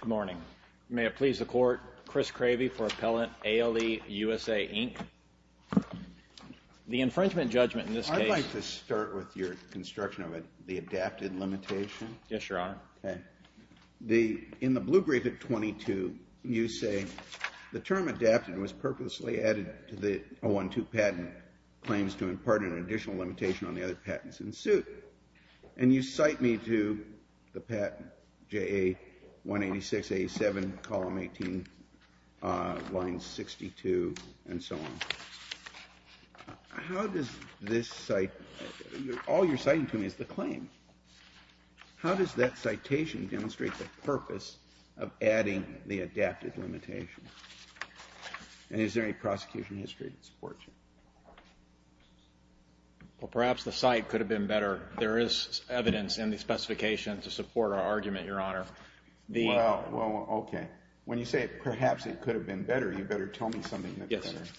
Good morning. May it please the court, Chris Cravey for Appellant ALE USA Inc. The infringement judgment in this case... I'd like to start with your construction of the adapted limitation. Yes, Your Honor. Okay. In the blue brief at 22, you say, the term adapted was purposely added to the 012 patent claims to impart an additional limitation on the other patents in suit. And you cite me to the patent, JA 186A7, column 18, line 62, and so on. How does this cite... All you're citing to me is the claim. How does that citation demonstrate the purpose of adding the adapted limitation? And is there any prosecution history to support you? Well, perhaps the cite could have been better. There is evidence in the specification to support our argument, Your Honor. Well, okay. When you say, perhaps it could have been better, you better tell me something that's better. Yes.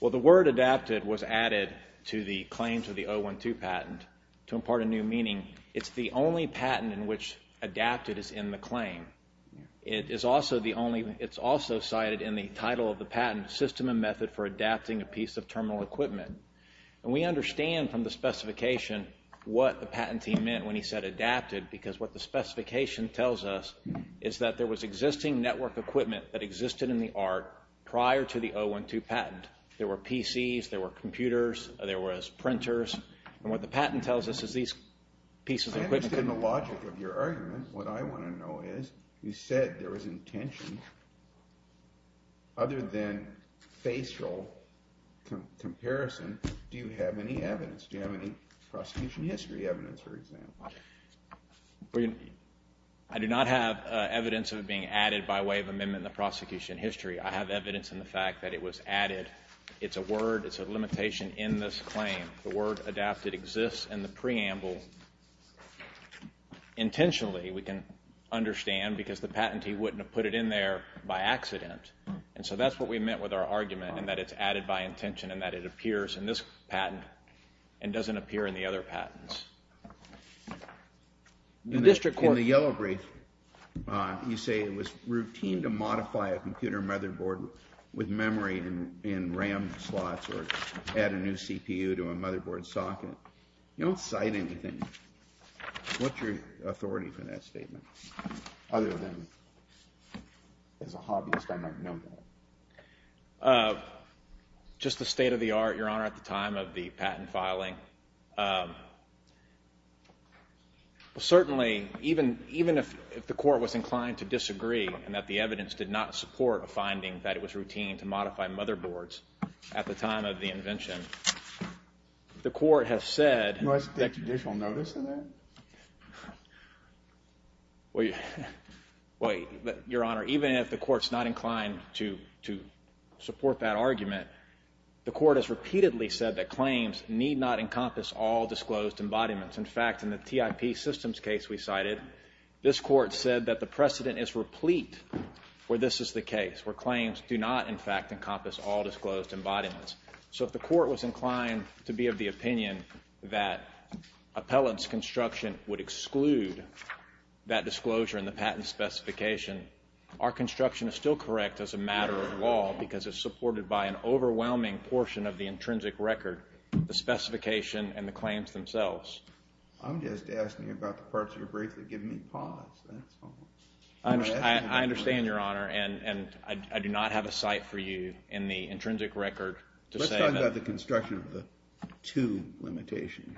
Well, the word adapted was added to the claims of the 012 patent to impart a new meaning. It's the only patent in which adapted is in the claim. It's also cited in the title of the patent, System and Method for Adapting a Piece of Terminal Equipment. And we understand from the specification what the patentee meant when he said adapted, because what the specification tells us is that there was existing network equipment that existed in the art prior to the 012 patent. There were PCs, there were computers, there was printers. And what the patent tells us is these pieces of equipment... I understand the logic of your argument. What I want to know is, you said there was intention. Other than facial comparison, do you have any evidence? Do you have any prosecution history evidence, for example? Well, I do not have evidence of it being added by way of amendment in the prosecution history. I have evidence in the fact that it was added. It's a word, it's a limitation in this claim. The word adapted exists in the preamble. Intentionally, we can understand, because the patentee wouldn't have put it in there by accident. And so that's what we meant with our argument, in that it's added by intention and that it appears in this patent and doesn't appear in the other patents. In the yellow brief, you say it was routine to modify a computer motherboard with memory in RAM slots or add a new CPU to a motherboard socket. You don't cite anything. What's your authority for that statement? Other than, as a hobbyist, I might know that. Just the state-of-the-art, Your Honor, at the time of the patent filing. Certainly, even if the court was inclined to disagree and that the evidence did not support a finding that it was routine to modify motherboards at the time of the invention, the court has said— Was there judicial notice of that? Well, Your Honor, even if the court's not inclined to support that argument, the court has repeatedly said that claims need not encompass all disclosed embodiments. In fact, in the TIP systems case we cited, this court said that the precedent is replete where this is the case, where claims do not, in fact, encompass all disclosed embodiments. So if the court was inclined to be of the opinion that appellant's construction would exclude that disclosure in the patent specification, our construction is still correct as a matter of law because it's supported by an overwhelming portion of the intrinsic record, the specification, and the claims themselves. I'm just asking about the parts of your brief that give me pause. That's all. I understand, Your Honor, and I do not have a cite for you in the intrinsic record to say that— Let's talk about the construction of the two limitation.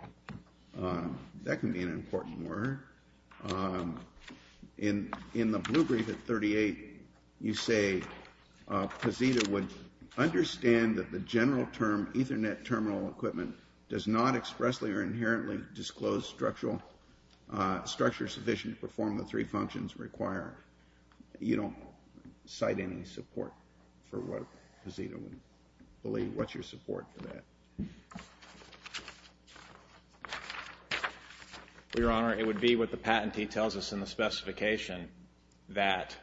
That can be an important word. In the blue brief at 38, you say Pazita would understand that the general term, Ethernet terminal equipment, does not expressly or inherently disclose structure sufficient to perform the three functions required. You don't cite any support for what Pazita would believe. What's your support for that? Well, Your Honor, it would be what the patentee tells us in the specification, that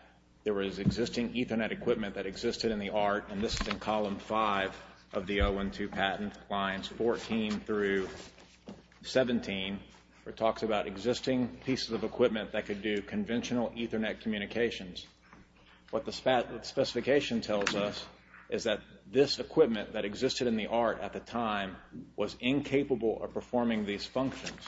there was existing Ethernet equipment that existed in the art, and this is in column five of the 012 patent lines 14 through 17, where it talks about existing pieces of equipment that could do conventional Ethernet communications. What the specification tells us is that this equipment that existed in the art at the time was incapable of performing these functions.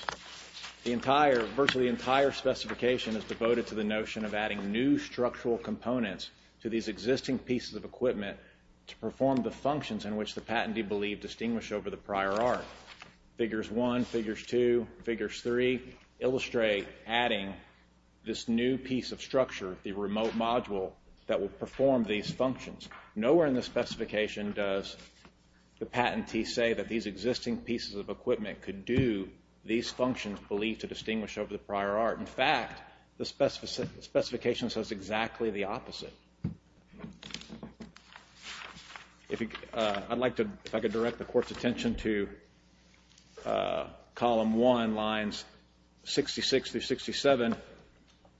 Virtually the entire specification is devoted to the notion of adding new structural components to these existing pieces of equipment to perform the functions in which the patentee believed distinguished over the prior art. Figures one, figures two, figures three illustrate adding this new piece of structure, the remote module, that will perform these functions. Nowhere in the specification does the patentee say that these existing pieces of equipment could do these functions believed to distinguish over the prior art. In fact, the specification says exactly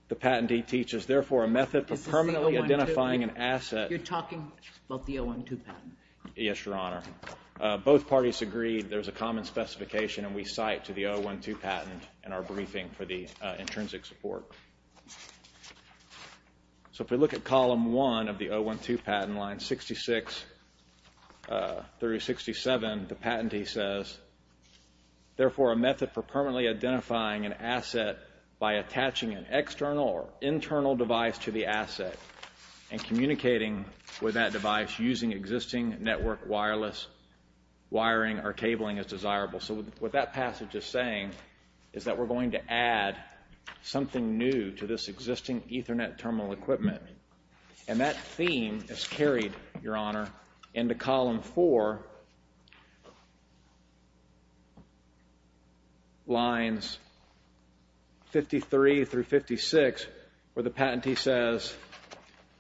the patentee teaches, therefore a method for permanently identifying an asset. You're talking about the 012 patent. Yes, Your Honor. Both parties agreed there's a common specification, and we cite to the 012 patent in our briefing for the intrinsic support. So if we look at column one of the 012 patent line 66 through 67, the patentee says, therefore a method for permanently identifying an asset by attaching an external or internal device to the asset and communicating with that device using existing network wireless wiring or cabling as desirable. So what that passage is saying is that we're going to add something new to this existing Ethernet terminal equipment, and that theme is carried, Your Honor, into column four lines 53 through 56, where the patentee says,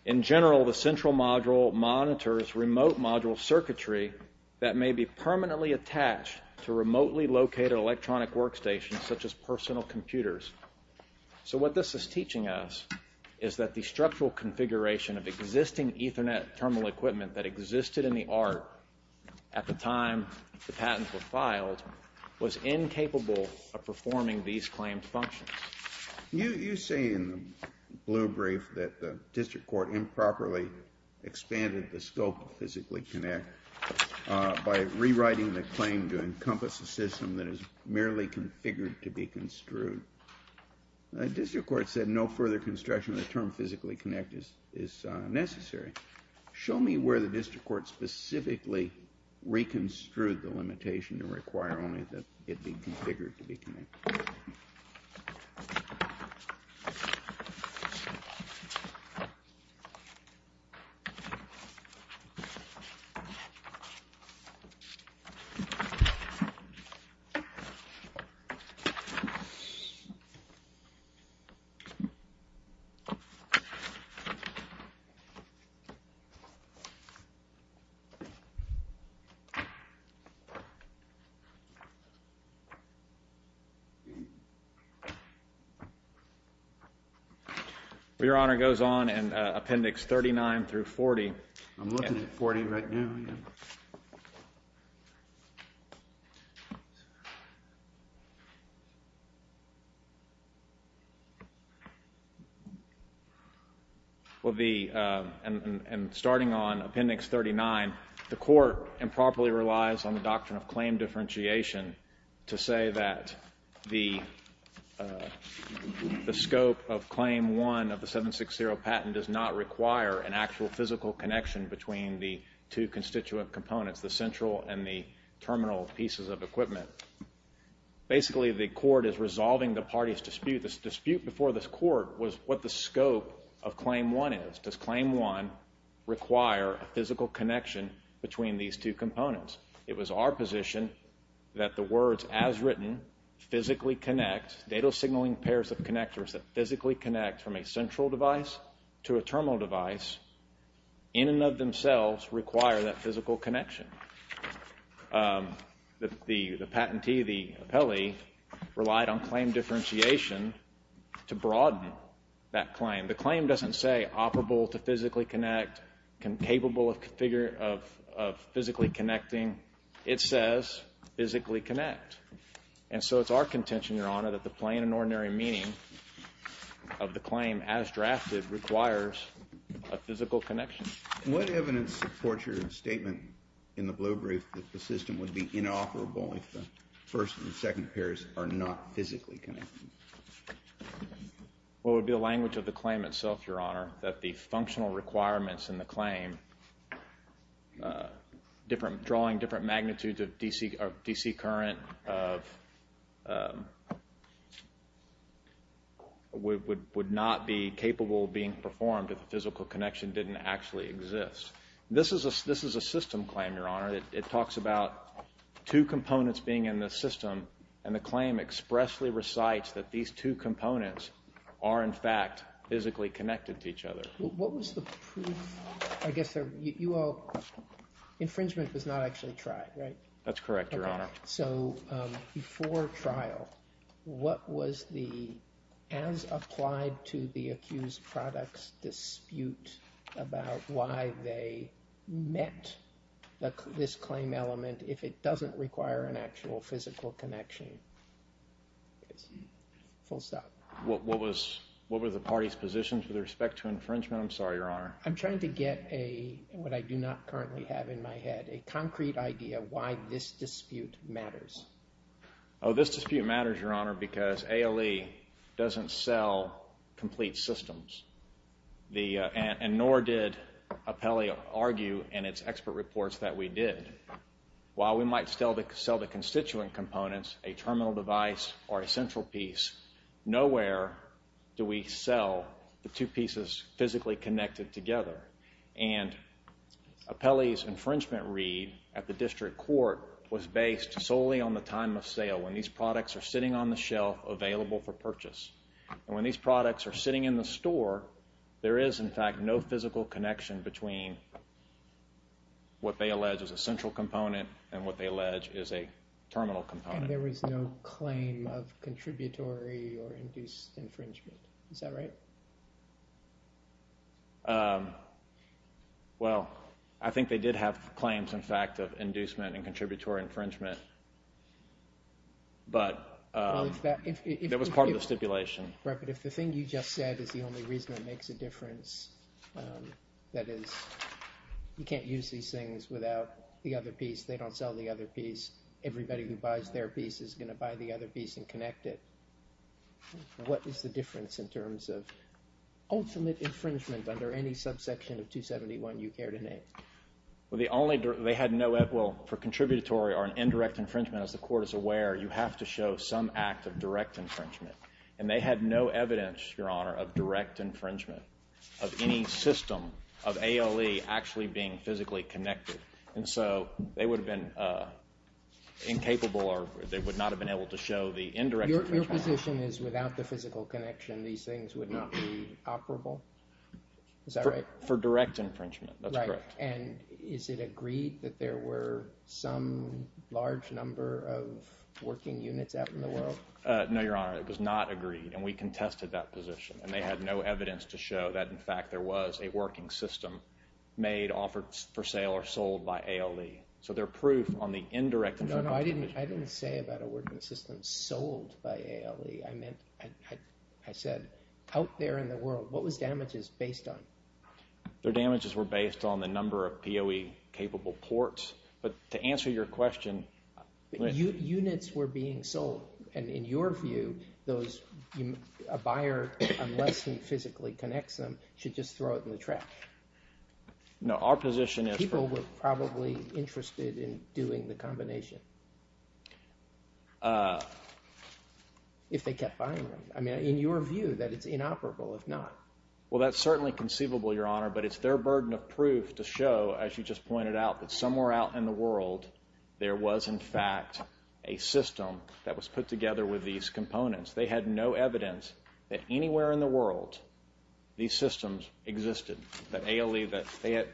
in general, the central module monitors remote module circuitry that may be permanently attached to remotely located electronic workstations such as personal computers. So what this is teaching us is that the structural configuration of existing Ethernet terminal equipment that existed in the art at the time the patents were filed was incapable of performing these claimed functions. You say in the blue brief that the district court improperly expanded the scope of physically connect by rewriting the claim to encompass a system that is merely configured to be construed. The district court said no further construction of the term physically connect is necessary. Show me where the district court specifically reconstrued the limitation to require only that it be configured to be connected. Okay. Your Honor, goes on and appendix 39 through 40. I'm looking at 40 right now. Well, the, and starting on appendix 39, the court improperly relies on the doctrine of claim differentiation to say that the scope of claim one of the 760 patent does not require an actual physical connection between the two constituent components, the central and the terminal pieces of equipment. Basically, the court is resolving the party's dispute. The dispute before this court was what the scope of claim one is. Does claim one require a physical connection between these two components? It was our position that the words as written physically connect, data signaling pairs of connectors that physically connect from a central device to a terminal device in and of themselves require that physical connection. The, the, the patentee, the appellee relied on claim differentiation to broaden that claim. The claim doesn't say operable to physically connect, capable of configure, of physically connecting. It says physically connect. And so it's our contention, Your Honor, that the plain and ordinary meaning of the claim as drafted requires a physical connection. What evidence supports your blue brief that the system would be inoperable if the first and second pairs are not physically connected? Well, it would be a language of the claim itself, Your Honor, that the functional requirements in the claim, different, drawing different magnitudes of DC, of DC current of, would, would, would not be capable of being performed if the physical connection didn't actually exist. This is a, this is a system claim, Your Honor. It, it talks about two components being in the system and the claim expressly recites that these two components are in fact physically connected to each other. What was the proof, I guess you all, infringement was not actually tried, right? That's correct, Your Honor. So before trial, what was the, as applied to the why they met this claim element if it doesn't require an actual physical connection? Full stop. What, what was, what were the party's positions with respect to infringement? I'm sorry, Your Honor. I'm trying to get a, what I do not currently have in my head, a concrete idea why this dispute matters. Oh, this dispute matters, Your Honor, because ALE doesn't sell complete systems. The, and nor did APELI argue in its expert reports that we did. While we might still sell the constituent components, a terminal device, or a central piece, nowhere do we sell the two pieces physically connected together. And APELI's infringement read at the district court was based solely on the time of sale, when these products are sitting on the shelf available for store, there is, in fact, no physical connection between what they allege is a central component and what they allege is a terminal component. And there was no claim of contributory or induced infringement, is that right? Well, I think they did have claims, in fact, of inducement and contributory infringement, but that was part of the stipulation. Right, but if the thing you just said is the only reason it makes a difference, that is, you can't use these things without the other piece, they don't sell the other piece, everybody who buys their piece is going to buy the other piece and connect it. What is the difference in terms of ultimate infringement under any subsection of 271 you care to name? Well, the only, they had no, well, for contributory or an indirect infringement, as the court is aware, you have to show some act of direct infringement, and they had no evidence, Your Honor, of direct infringement of any system of ALE actually being physically connected, and so they would have been incapable or they would not have been able to show the indirect infringement. Your position is without the physical connection these things would not be operable, is that right? For direct infringement, that's correct. Right, and is it agreed that there were some large number of working units out in the world? No, Your Honor, it was not agreed, and we contested that position, and they had no evidence to show that, in fact, there was a working system made, offered for sale, or sold by ALE, so their proof on the indirect infringement. No, no, I didn't say about a working system sold by ALE, I meant, I said out there in the world, what was damages based on? Their damages were based on the number of POE-capable ports, but to answer your question... Units were being sold, and in your view, those, a buyer, unless he physically connects them, should just throw it in the trash? No, our position is... People were probably interested in doing the combination, if they kept buying them. I mean, in your view, that it's inoperable, if not? Well, that's certainly conceivable, Your Honor, but it's their burden of proof to show, as you just pointed out, that somewhere out in the world, there was, in fact, a system that was put together with these components. They had no evidence that anywhere in the world, these systems existed, that ALE, that they had...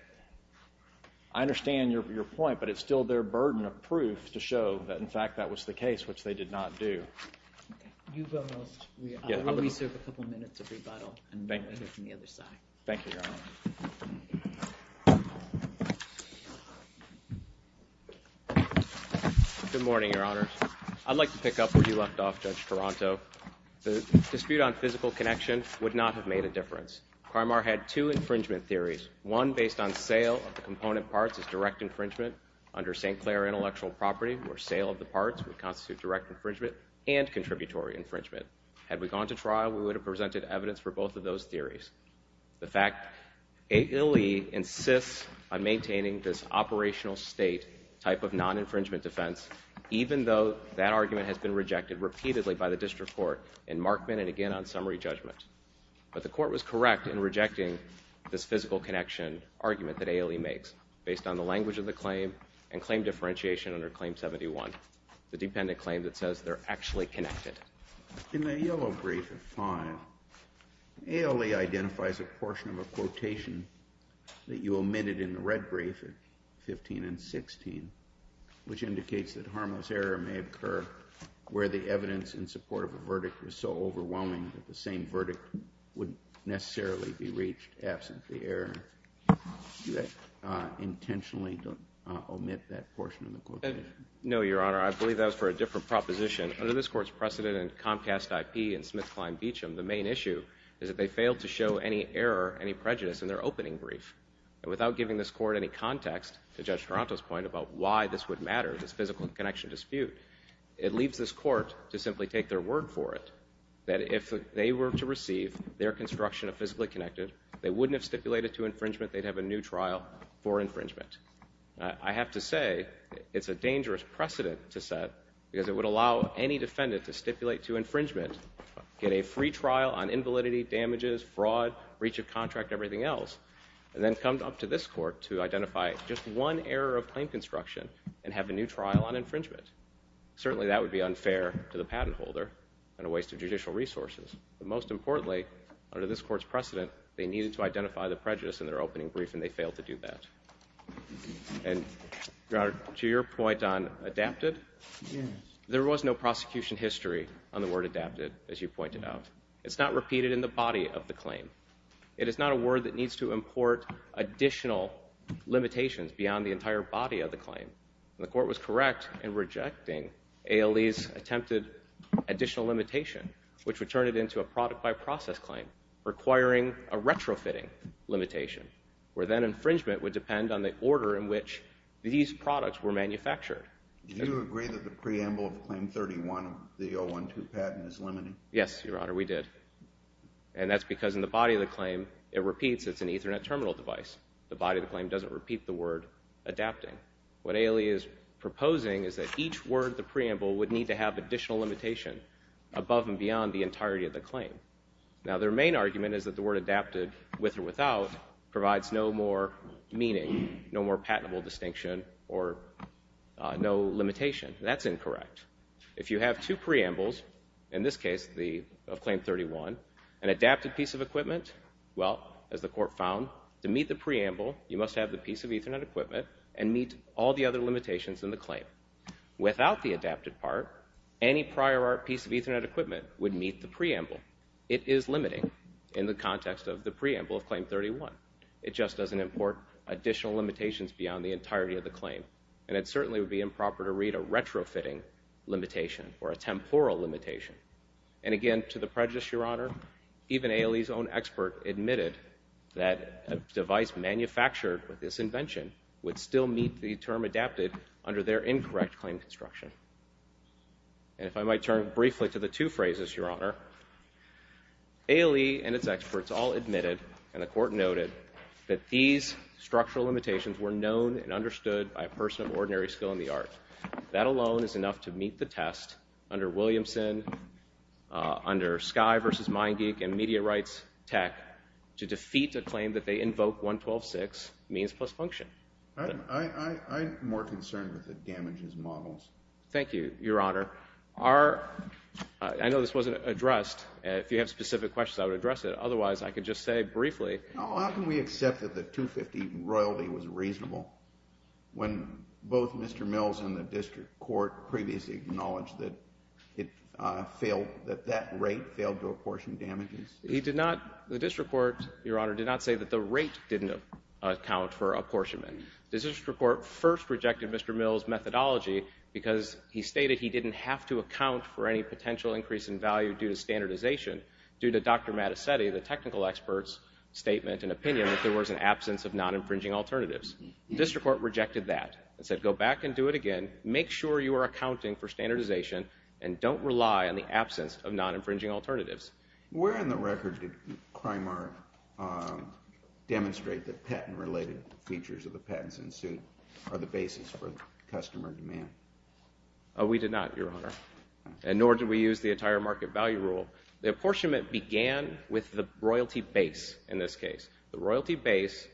I understand your point, but it's still their burden of proof to show that, in fact, that was the case, which they did not do. You've almost... We'll reserve a couple minutes of rebuttal on the other side. Thank you, Your Honor. Good morning, Your Honors. I'd like to pick up where you left off, Judge Toronto. The dispute on physical connection would not have made a difference. Carmar had two infringement theories, one based on sale of the component parts as direct infringement under St. Clair Intellectual Property, where sale of the parts would constitute direct infringement and contributory infringement. Had we gone to trial, we would have presented evidence for both of those theories. The fact ALE insists on maintaining this operational state type of non-infringement defense, even though that argument has been rejected repeatedly by the District Court in Markman and again on summary judgment. But the Court was correct in rejecting this physical connection argument that ALE makes, based on the language of the claim and claim differentiation under Claim 71, the dependent claim that says they're actually connected. In the yellow brief at 5, ALE identifies a portion of a quotation that you omitted in the red brief at 15 and 16, which indicates that harmless error may occur where the evidence in support of a verdict was so overwhelming that the same verdict wouldn't necessarily be reached absent the error. Do you intentionally omit that portion of the quotation? No, Your Honor. I believe that was for a different proposition. Under this Court's precedent and Comcast IP and Smith-Klein-Beacham, the main issue is that they failed to show any error, any prejudice in their opening brief. And without giving this Court any context, to Judge Toronto's point about why this would matter, this physical connection dispute, it leaves this Court to simply take their word for it that if they were to receive their construction of physically connected, they wouldn't have stipulated to infringement, they'd have a new trial for infringement. I have to say, it's a dangerous precedent to set because it would allow any defendant to stipulate to infringement, get a free trial on invalidity, damages, fraud, reach of contract, everything else, and then come up to this Court to identify just one error of claim construction and have a new trial on infringement. Certainly that would be unfair to the patent holder and a waste of time. They needed to identify the prejudice in their opening brief and they failed to do that. And, Your Honor, to your point on adapted, there was no prosecution history on the word adapted, as you pointed out. It's not repeated in the body of the claim. It is not a word that needs to import additional limitations beyond the entire body of the claim. The Court was correct in rejecting ALE's attempted additional limitation, which would turn it into a product by process claim, requiring a retrofitting limitation, where then infringement would depend on the order in which these products were manufactured. Do you agree that the preamble of Claim 31 of the 012 patent is limiting? Yes, Your Honor, we did. And that's because in the body of the claim, it repeats. It's an Ethernet terminal device. The body of the claim doesn't repeat the word adapting. What ALE is proposing is that each word of the preamble would need to have additional limitation above and beyond the entirety of the claim. Now, their main argument is that the word adapted, with or without, provides no more meaning, no more patentable distinction, or no limitation. That's incorrect. If you have two preambles, in this case of Claim 31, an adapted piece of equipment, well, as the Court found, to meet the preamble, you must have the piece of Ethernet equipment and meet all the other limitations in the claim. Without the adapted part, any prior art piece of equipment would meet the preamble. It is limiting in the context of the preamble of Claim 31. It just doesn't import additional limitations beyond the entirety of the claim, and it certainly would be improper to read a retrofitting limitation or a temporal limitation. And again, to the prejudice, Your Honor, even ALE's own expert admitted that a device manufactured with this invention would still meet the term adapted under their incorrect claim construction. And if I might turn briefly to the two phrases, Your Honor, ALE and its experts all admitted, and the Court noted, that these structural limitations were known and understood by a person of ordinary skill in the art. That alone is enough to meet the test under Williamson, under Skye versus Meingeek and Media Rights Tech to defeat a claim that they invoke 112.6 means plus function. I'm more concerned with the damages models. Thank you, Your Honor. I know this wasn't addressed. If you have specific questions, I would address it. Otherwise, I could just say briefly. How can we accept that the 250 royalty was reasonable when both Mr. Mills and the District Court previously acknowledged that that rate failed to apportion for apportionment? The District Court first rejected Mr. Mills' methodology because he stated he didn't have to account for any potential increase in value due to standardization due to Dr. Mattesetti, the technical expert's statement and opinion that there was an absence of non infringing alternatives. The District Court rejected that and said, go back and do it again. Make sure you are accounting for standardization and don't rely on the absence of non infringing alternatives. Where in the record did Crimart demonstrate that patent related features of the patents in suit are the basis for customer demand? We did not, Your Honor, and nor did we use the entire market value rule. The apportionment began with the royalty base in this case. The royalty base,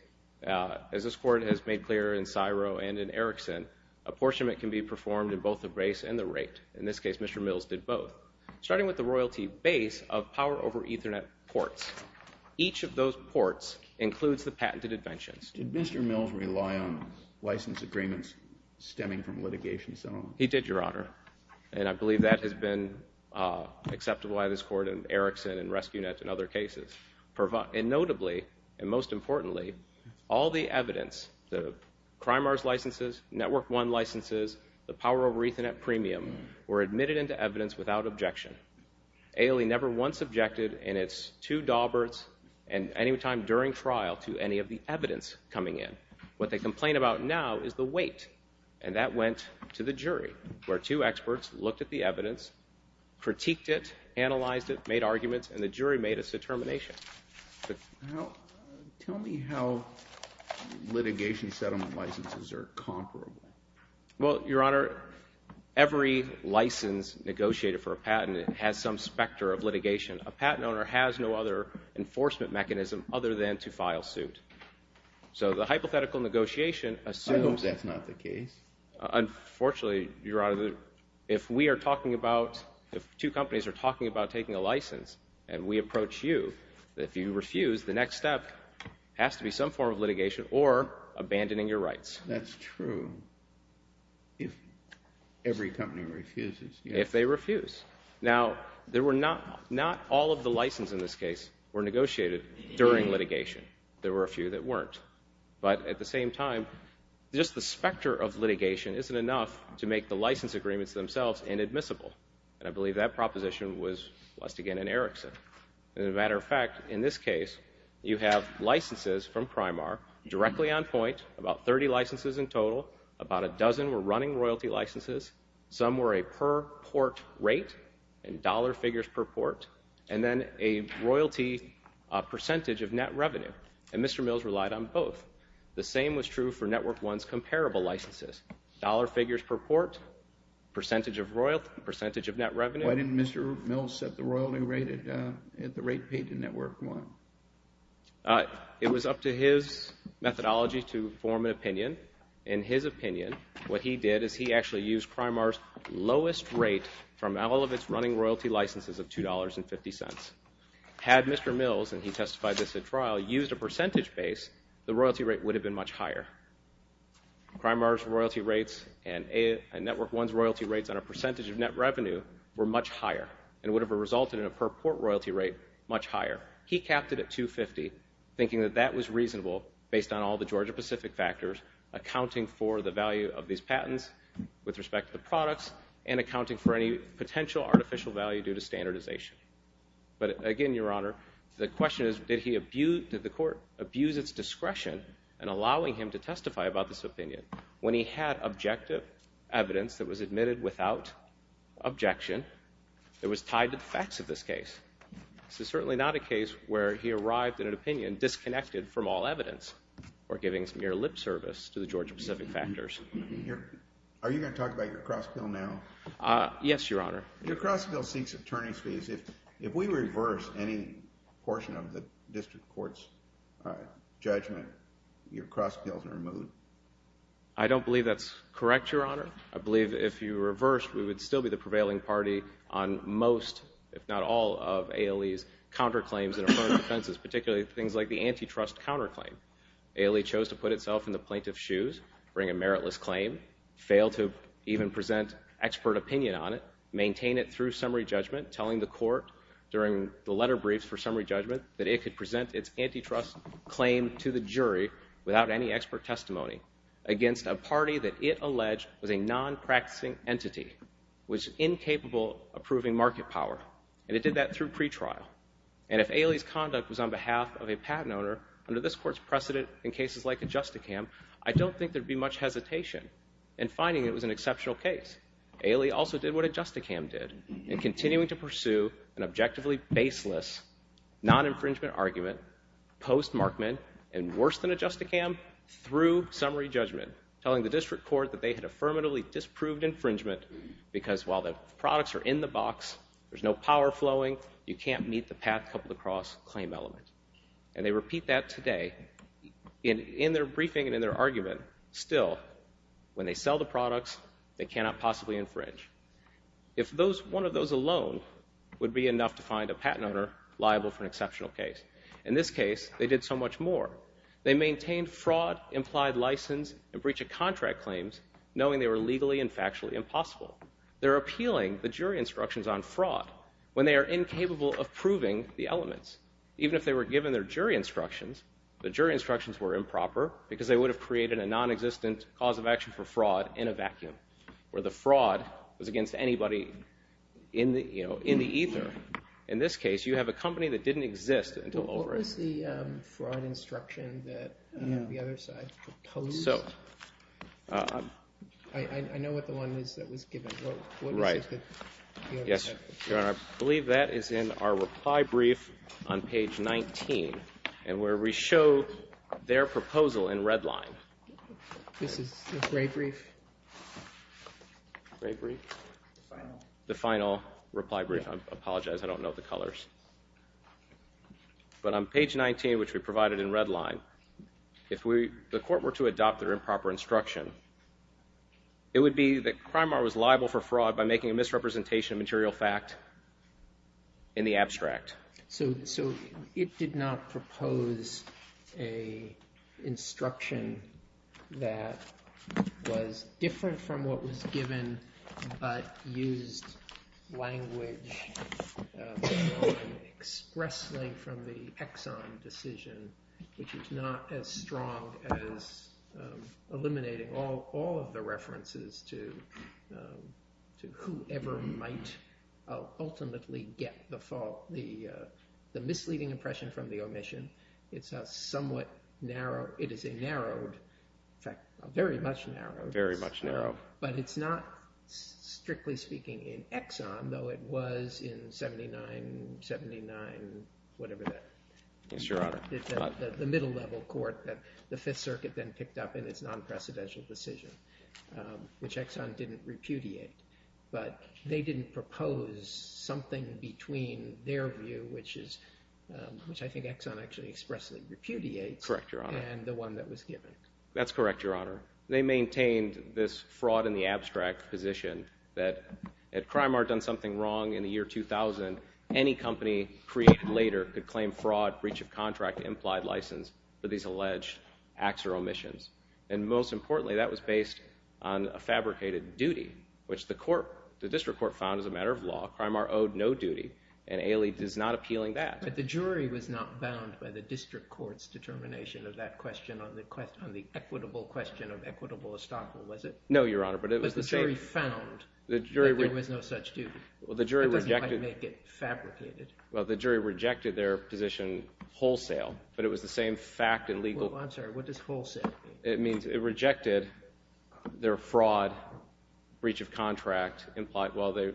as this Court has made clear in Syro and in Erickson, apportionment can be performed in both the base and the rate. In this case, Mr. Mills did both. Starting with the royalty base of Power over Ethernet ports. Each of those ports includes the patented inventions. Did Mr. Mills rely on license agreements stemming from litigation? He did, Your Honor, and I believe that has been acceptable by this Court in Erickson and Rescue Net and other cases. And notably, and most importantly, all the evidence, the Crimart licenses, Network One licenses, the Power over Ethernet premium, were admitted into evidence without objection. ALE never once objected in its two dauberts and any time during trial to any of the evidence coming in. What they complain about now is the weight, and that went to the jury, where two experts looked at the evidence, critiqued it, analyzed it, made arguments, and the jury made its determination. Tell me how litigation settlement licenses are comparable. Well, Your Honor, every license negotiated for a patent has some specter of litigation. A patent owner has no other enforcement mechanism other than to file suit. So the hypothetical negotiation assumes that's not the case. Unfortunately, Your Honor, if we are talking about, if two companies are talking about taking a license and we approach you, if you That's true. If every company refuses. If they refuse. Now, there were not all of the licenses in this case were negotiated during litigation. There were a few that weren't. But at the same time, just the specter of litigation isn't enough to make the license agreements themselves inadmissible. And I believe that proposition was, once again, in Erickson. As a matter of fact, in this case, you have licenses from Primar directly on point, about 30 licenses in total. About a dozen were running royalty licenses. Some were a per port rate, in dollar figures per port, and then a royalty percentage of net revenue. And Mr. Mills relied on both. The same was true for Network One's comparable licenses. Dollar figures per port, percentage of net revenue. Why didn't Mr. Mills set the royalty rate at the rate paid to Network One? It was up to his methodology to form an opinion. In his opinion, what he did is he actually used Primar's lowest rate from all of its running royalty licenses of $2.50. Had Mr. Mills, and he testified this at trial, used a percentage base, the royalty rate would have been much higher. Primar's royalty rates and Network One's royalty rates on a percentage of net revenue were much higher and would have resulted in a per port royalty rate much higher. He capped it at $2.50, thinking that that was reasonable based on all the Georgia-Pacific factors, accounting for the value of these patents with respect to the products and accounting for any potential artificial value due to standardization. But again, Your Honor, the question is, did the court abuse its discretion in allowing him to testify about this opinion when he had objective evidence that was admitted without objection that was tied to the facts of this case? This is certainly not a case where he arrived at an opinion disconnected from all evidence or giving some mere lip service to the Georgia-Pacific factors. Are you going to talk about your cross-pill now? Yes, Your Honor. Your cross-pill seeks attorney's fees. If we reverse any portion of the district court's judgment, your cross-pill is removed. I don't believe that's correct, Your Honor. I believe if you reversed, we would still be the prevailing party on most, if not all, of ALE's counterclaims and offenses, particularly things like the antitrust counterclaim. ALE chose to put itself in the plaintiff's shoes, bring a meritless claim, fail to even present expert opinion on it, maintain it through summary judgment, telling the court during the letter briefs for summary judgment that it could trust claim to the jury without any expert testimony against a party that it alleged was a non-practicing entity, was incapable of proving market power, and it did that through pretrial. And if ALE's conduct was on behalf of a patent owner, under this court's precedent in cases like Adjusticam, I don't think there'd be much hesitation in finding it was an exceptional case. ALE also did what Adjusticam did in continuing to pursue an objectively baseless, non-infringement argument, post-Markman, and worse than Adjusticam, through summary judgment, telling the district court that they had affirmatively disproved infringement because while the products are in the box, there's no power flowing, you can't meet the patent couple-across claim element. And they repeat that today in their briefing and in their argument. Still, when they sell the products, they cannot possibly infringe. If one of those alone would be enough to find a patent owner liable for an exceptional case. In this case, they did so much more. They maintained fraud, implied license, and breach of contract claims knowing they were legally and factually impossible. They're appealing the jury instructions on fraud when they are incapable of proving the elements. Even if they were given their jury instructions, the jury instructions were improper because they would have created a non-existent cause of action for In this case, you have a company that didn't exist until over. What was the fraud instruction that the other side proposed? So. I know what the one is that was given. Right. Yes, Your Honor. I believe that is in our reply brief on page 19, and where we show their proposal in red line. This is the gray brief? Gray brief? Final. The final reply brief. I apologize. I don't know the colors. But on page 19, which we provided in red line, if we, the court were to adopt their improper instruction, it would be that Crimar was liable for fraud by making a misrepresentation of material fact in the abstract. So it did not propose a instruction that was different from what was given, but used language expressly from the Exxon decision, which is not as strong as eliminating all of the references to whoever might ultimately get the fault, the misleading impression from the omission. It's a somewhat narrow, it is a narrowed, in fact, very much narrow. Very much narrow. But it's not, strictly speaking, in Exxon, though it was in 79, 79, whatever that. Yes, Your Honor. The middle level court that the Fifth Circuit then picked up in its non-precedential decision, which Exxon didn't repudiate, but they didn't propose something between their view, which is, which I think Exxon actually expressly repudiates. Correct, Your Honor. And the one that was given. That's correct, Your Honor. They maintained this fraud in the abstract position that had Crimar done something wrong in the year 2000, any company created later could claim fraud, breach of contract, implied license for these alleged acts or omissions. And most importantly, that was based on a fabricated duty, which the court, the district court found as a matter of law. Crimar owed no duty, and Ailey is not appealing that. But the jury was not bound by the district court's determination of that question on the equitable question of equitable estoppel, was it? No, Your Honor, but it was the jury. But the jury found that there was no such duty. Well, the jury rejected. That doesn't quite make it fabricated. Well, the jury rejected their position wholesale, but it was the same fact and legal. I'm sorry, what does wholesale mean? It means it rejected their fraud, breach of contract, implied. Well, the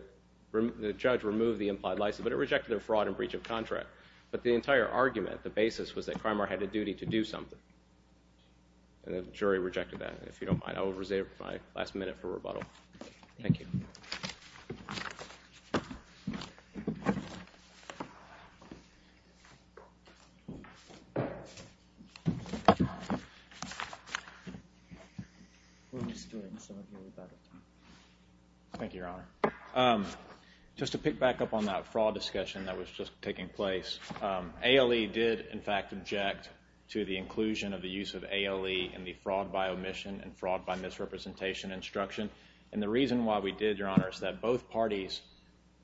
judge removed the implied license, but it rejected their fraud and breach of contract. But the entire argument, the basis, was that Crimar had a duty to do something. And the jury rejected that. If you don't mind, I will reserve my last minute for rebuttal. Thank you. Your Honor, just to pick back up on that fraud discussion that was just taking place, Ailey did, in fact, object to the inclusion of the use of Ailey in the fraud by omission and fraud by misrepresentation instruction. And the reason why we did, Your Honor, is that both parties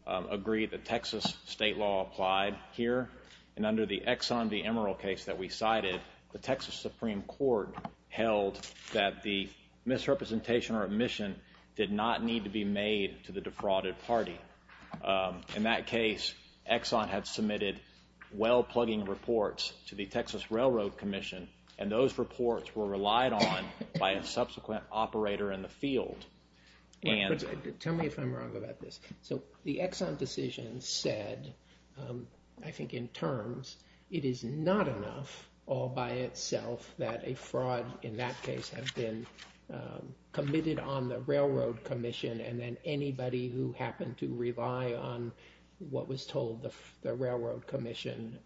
agreed that Texas state law applied here. And under the Exxon v. Emerald case that we cited, the Texas Supreme Court held that the misrepresentation or omission did not need to be made to the defrauded party. In that case, Exxon had submitted well-plugging reports to the Texas Railroad Commission, and those reports were relied on by a subsequent operator in the field. Tell me if I'm wrong about this. So the Exxon decision said, I think in terms, it is not enough all by itself that a fraud, in that case, had been committed on the Railroad Commission, and then anybody who happened to rely on what was told the Railroad Commission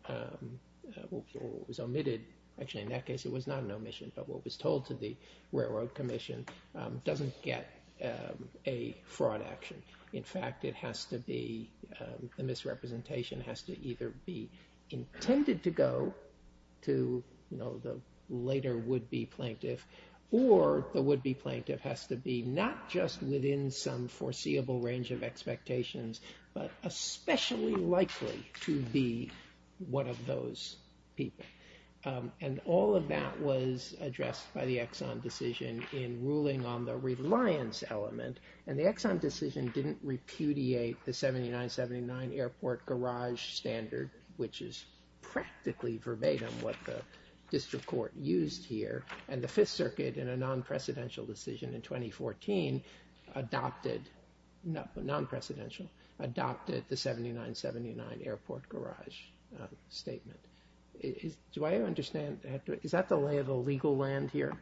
was omitted. Actually, in that case, it was not an omission. But what was told to the Railroad Commission doesn't get a fraud action. In fact, the misrepresentation has to either be intended to go to the later would-be plaintiff, or the would-be plaintiff has to be not just within some foreseeable range of expectations, but especially likely to be one of those people. And all of that was addressed by the Exxon decision in ruling on the reliance element. And the Exxon decision didn't repudiate the 79-79 airport garage standard, which is practically verbatim what the district court used here. And the Fifth Circuit, in a non-precedential decision in 2014, adopted, not non-precedential, adopted the 79-79 airport garage statement. Do I understand, is that the lay of the legal land here?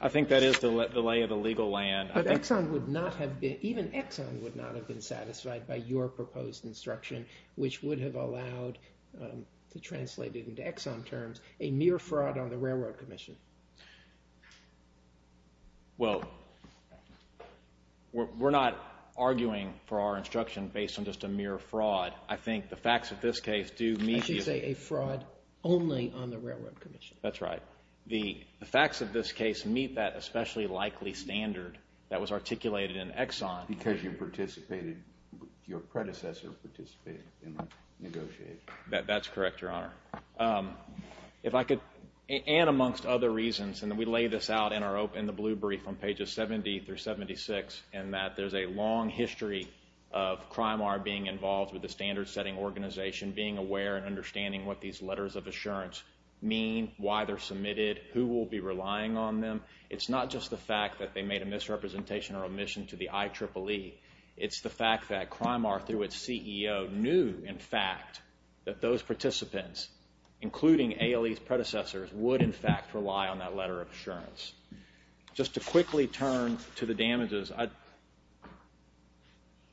I think that is the lay of the legal land. But Exxon would not have been, even Exxon would not have been satisfied by your proposed instruction, which would have allowed, to translate it into Exxon terms, a mere fraud on the Railroad Commission. Well, we're not arguing for our instruction based on just a mere fraud. I think the facts of this case do meet... I should say a fraud only on the Railroad Commission. That's right. The facts of this case meet that especially likely standard that was articulated in Exxon. Because you participated, your predecessors participated in the negotiation. That's correct, Your Honor. If I could, and amongst other reasons, and we lay this out in the blue brief on pages 70 through 76, in that there's a long history of CRIMAR being involved with the standard-setting organization, being aware and understanding what these letters of assurance mean, why they're submitted, who will be relying on them. It's not just the fact that they made a misrepresentation or omission to the IEEE. It's the fact that CRIMAR, through its CEO, knew, in fact, that those participants, including ALE's predecessors, would, in fact, rely on that letter of assurance. Just to quickly turn to the damages,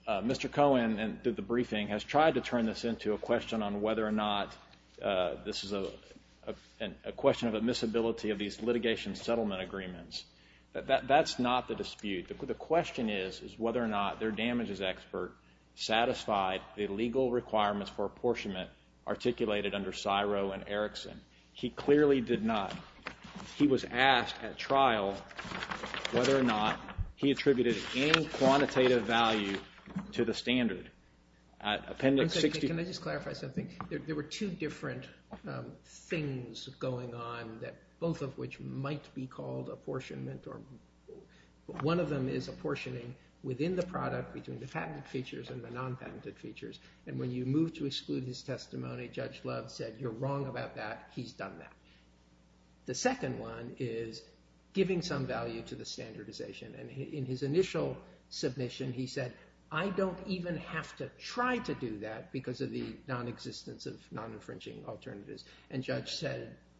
Mr. Cohen, through the briefing, has tried to turn this into a question on whether or not this is a question of admissibility of these litigation settlement agreements. That's not the dispute. The question is whether or not their damages expert satisfied the legal requirements for apportionment articulated under Syro and Erickson. He clearly did not. He was asked at trial whether or not he attributed any quantitative value to the standard. Can I just clarify something? There were two different things going on, both of which might be called apportionment. One of them is apportioning within the product, between the patented features and the non-patented features. When you move to exclude his testimony, Judge Love said, you're wrong about that. He's done that. The second one is giving some value to the standardization. In his initial submission, he said, I don't even have to try to do that because of the non-existence of non-infringing alternatives.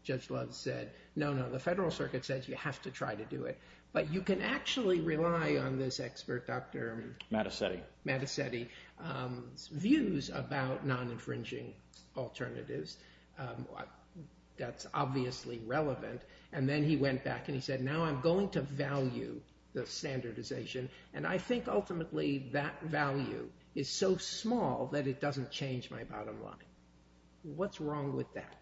Judge Love said, no, no. The Federal Circuit says you have to try to do it. But you can actually rely on this expert, Dr. Mattacetti's views about non-infringing alternatives. That's obviously relevant. Then he went back and he said, now I'm going to value the standardization. I think ultimately that value is so small that it doesn't change my bottom line. What's wrong with that?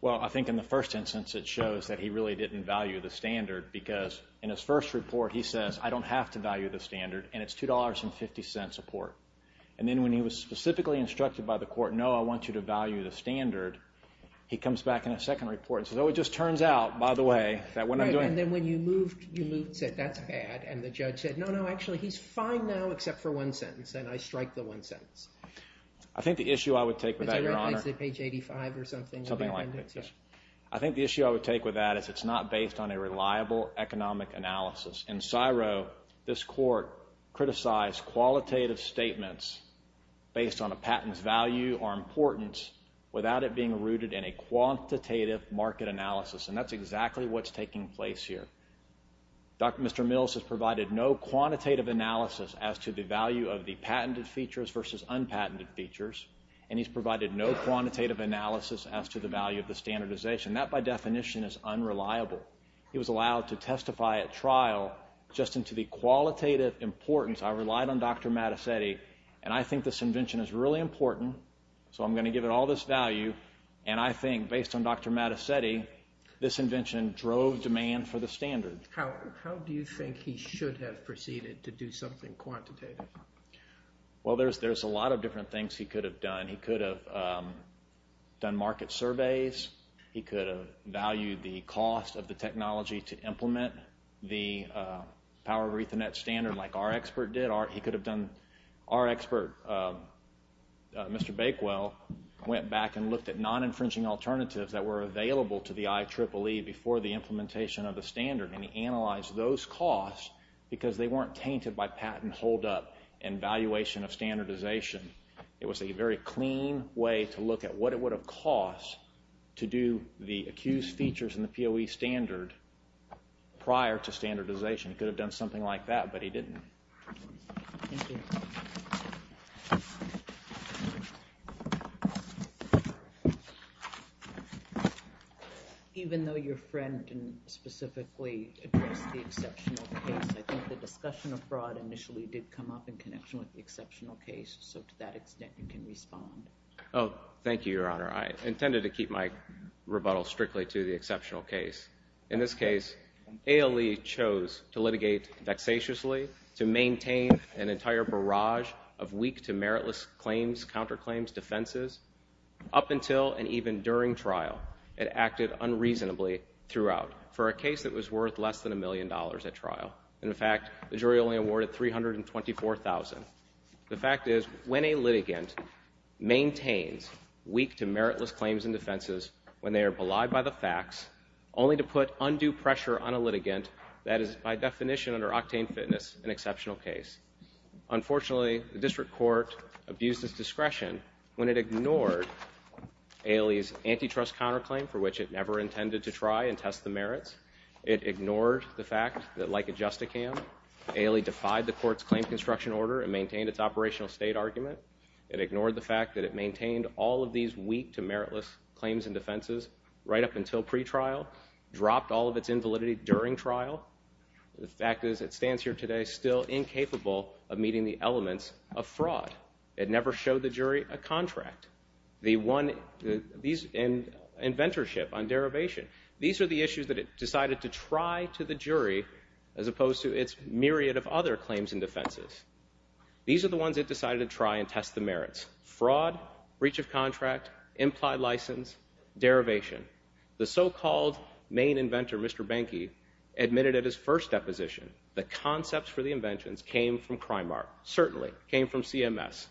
Well, I think in the first instance, it shows that he really didn't value the standard because in his first report, he says, I don't have to value the standard and it's $2.50 a port. Then when he was specifically instructed by the court, no, I want you to value the standard, he comes back in a second report and says, oh, it just turns out, by the way, that what I'm doing. Then when you moved, you moved and said, that's bad. The judge said, no, no, actually he's fine now except for one sentence. I strike the one sentence. I think the issue I would take with that, Your Honor. It's on page 85 or something. Something like that, yes. I think the issue I would take with that is it's not based on a reliable economic analysis. In CSIRO, this court criticized qualitative statements based on a patent's value or importance without it being rooted in a quantitative market analysis. That's exactly what's taking place here. Dr. Mr. Mills has provided no quantitative analysis as to the value of the patented features versus unpatented features, and he's provided no quantitative analysis as to the value of the standardization. That, by definition, is unreliable. He was allowed to testify at trial just into the qualitative importance. I relied on Dr. Mattacetti, and I think this invention is really important, so I'm going to give it all this value, and I think, based on Dr. Mattacetti, this invention drove demand for the standard. How do you think he should have proceeded to do something quantitative? Well, there's a lot of different things he could have done. He could have done market surveys. He could have valued the cost of the technology to implement the power of Ethernet standard like our expert did. He could have done... Our expert, Mr. Bakewell, went back and looked at non-infringing alternatives that were available to the IEEE before the implementation of the standard, and he analyzed those costs because they weren't tainted by patent hold-up and valuation of standardization. It was a very clean way to look at what it would have cost to do the accused features in the POE standard prior to standardization. He could have done something like that, but he didn't. Even though your friend didn't specifically address the exceptional case, I think the discussion of fraud initially did come up in connection with the exceptional case. So to that extent, you can respond. Oh, thank you, Your Honor. I intended to keep my rebuttal strictly to the exceptional case. In this case, ALE chose to litigate vexatiously to maintain an entire barrage of weak to meritless claims, counterclaims, defenses up until and even during trial. It acted unreasonably throughout. For a case that was worth less than a million dollars at trial. In fact, the jury only awarded $324,000. The fact is, when a litigant maintains weak to meritless claims and defenses when they are belied by the facts, only to put undue pressure on a litigant, that is by definition under octane fitness, an exceptional case. Unfortunately, the district court abused its discretion when it ignored ALE's antitrust counterclaim for which it never intended to try and test the merits. It ignored the fact that like a justicam, ALE defied the court's claim construction order and maintained its operational state argument. It ignored the fact that it maintained all of these weak to meritless claims and defenses right up until pretrial, dropped all of its invalidity during trial. The fact is, it stands here today still incapable of meeting the elements of fraud. It never showed the jury a contract. These inventorship on derivation, these are the issues that it decided to try to the jury as opposed to its myriad of other claims and defenses. These are the ones it decided to try and test the merits. Fraud, breach of contract, implied license, derivation. The so-called main inventor, Mr. Bankey, admitted at his first deposition the concepts for the inventions came from crime art, certainly came from CMS.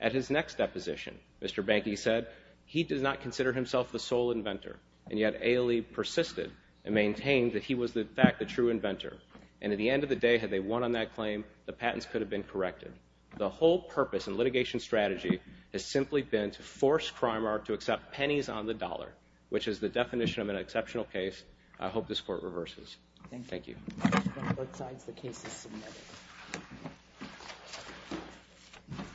At his next deposition, Mr. Bankey said he does not consider himself the sole inventor and yet ALE persisted and maintained that he was in fact the true inventor. And at the end of the day, had they won on that claim, the patents could have been corrected. The whole purpose and litigation strategy has simply been to force crime art to accept pennies on the dollar, which is the definition of an exceptional case. I hope this court reverses. Thank you.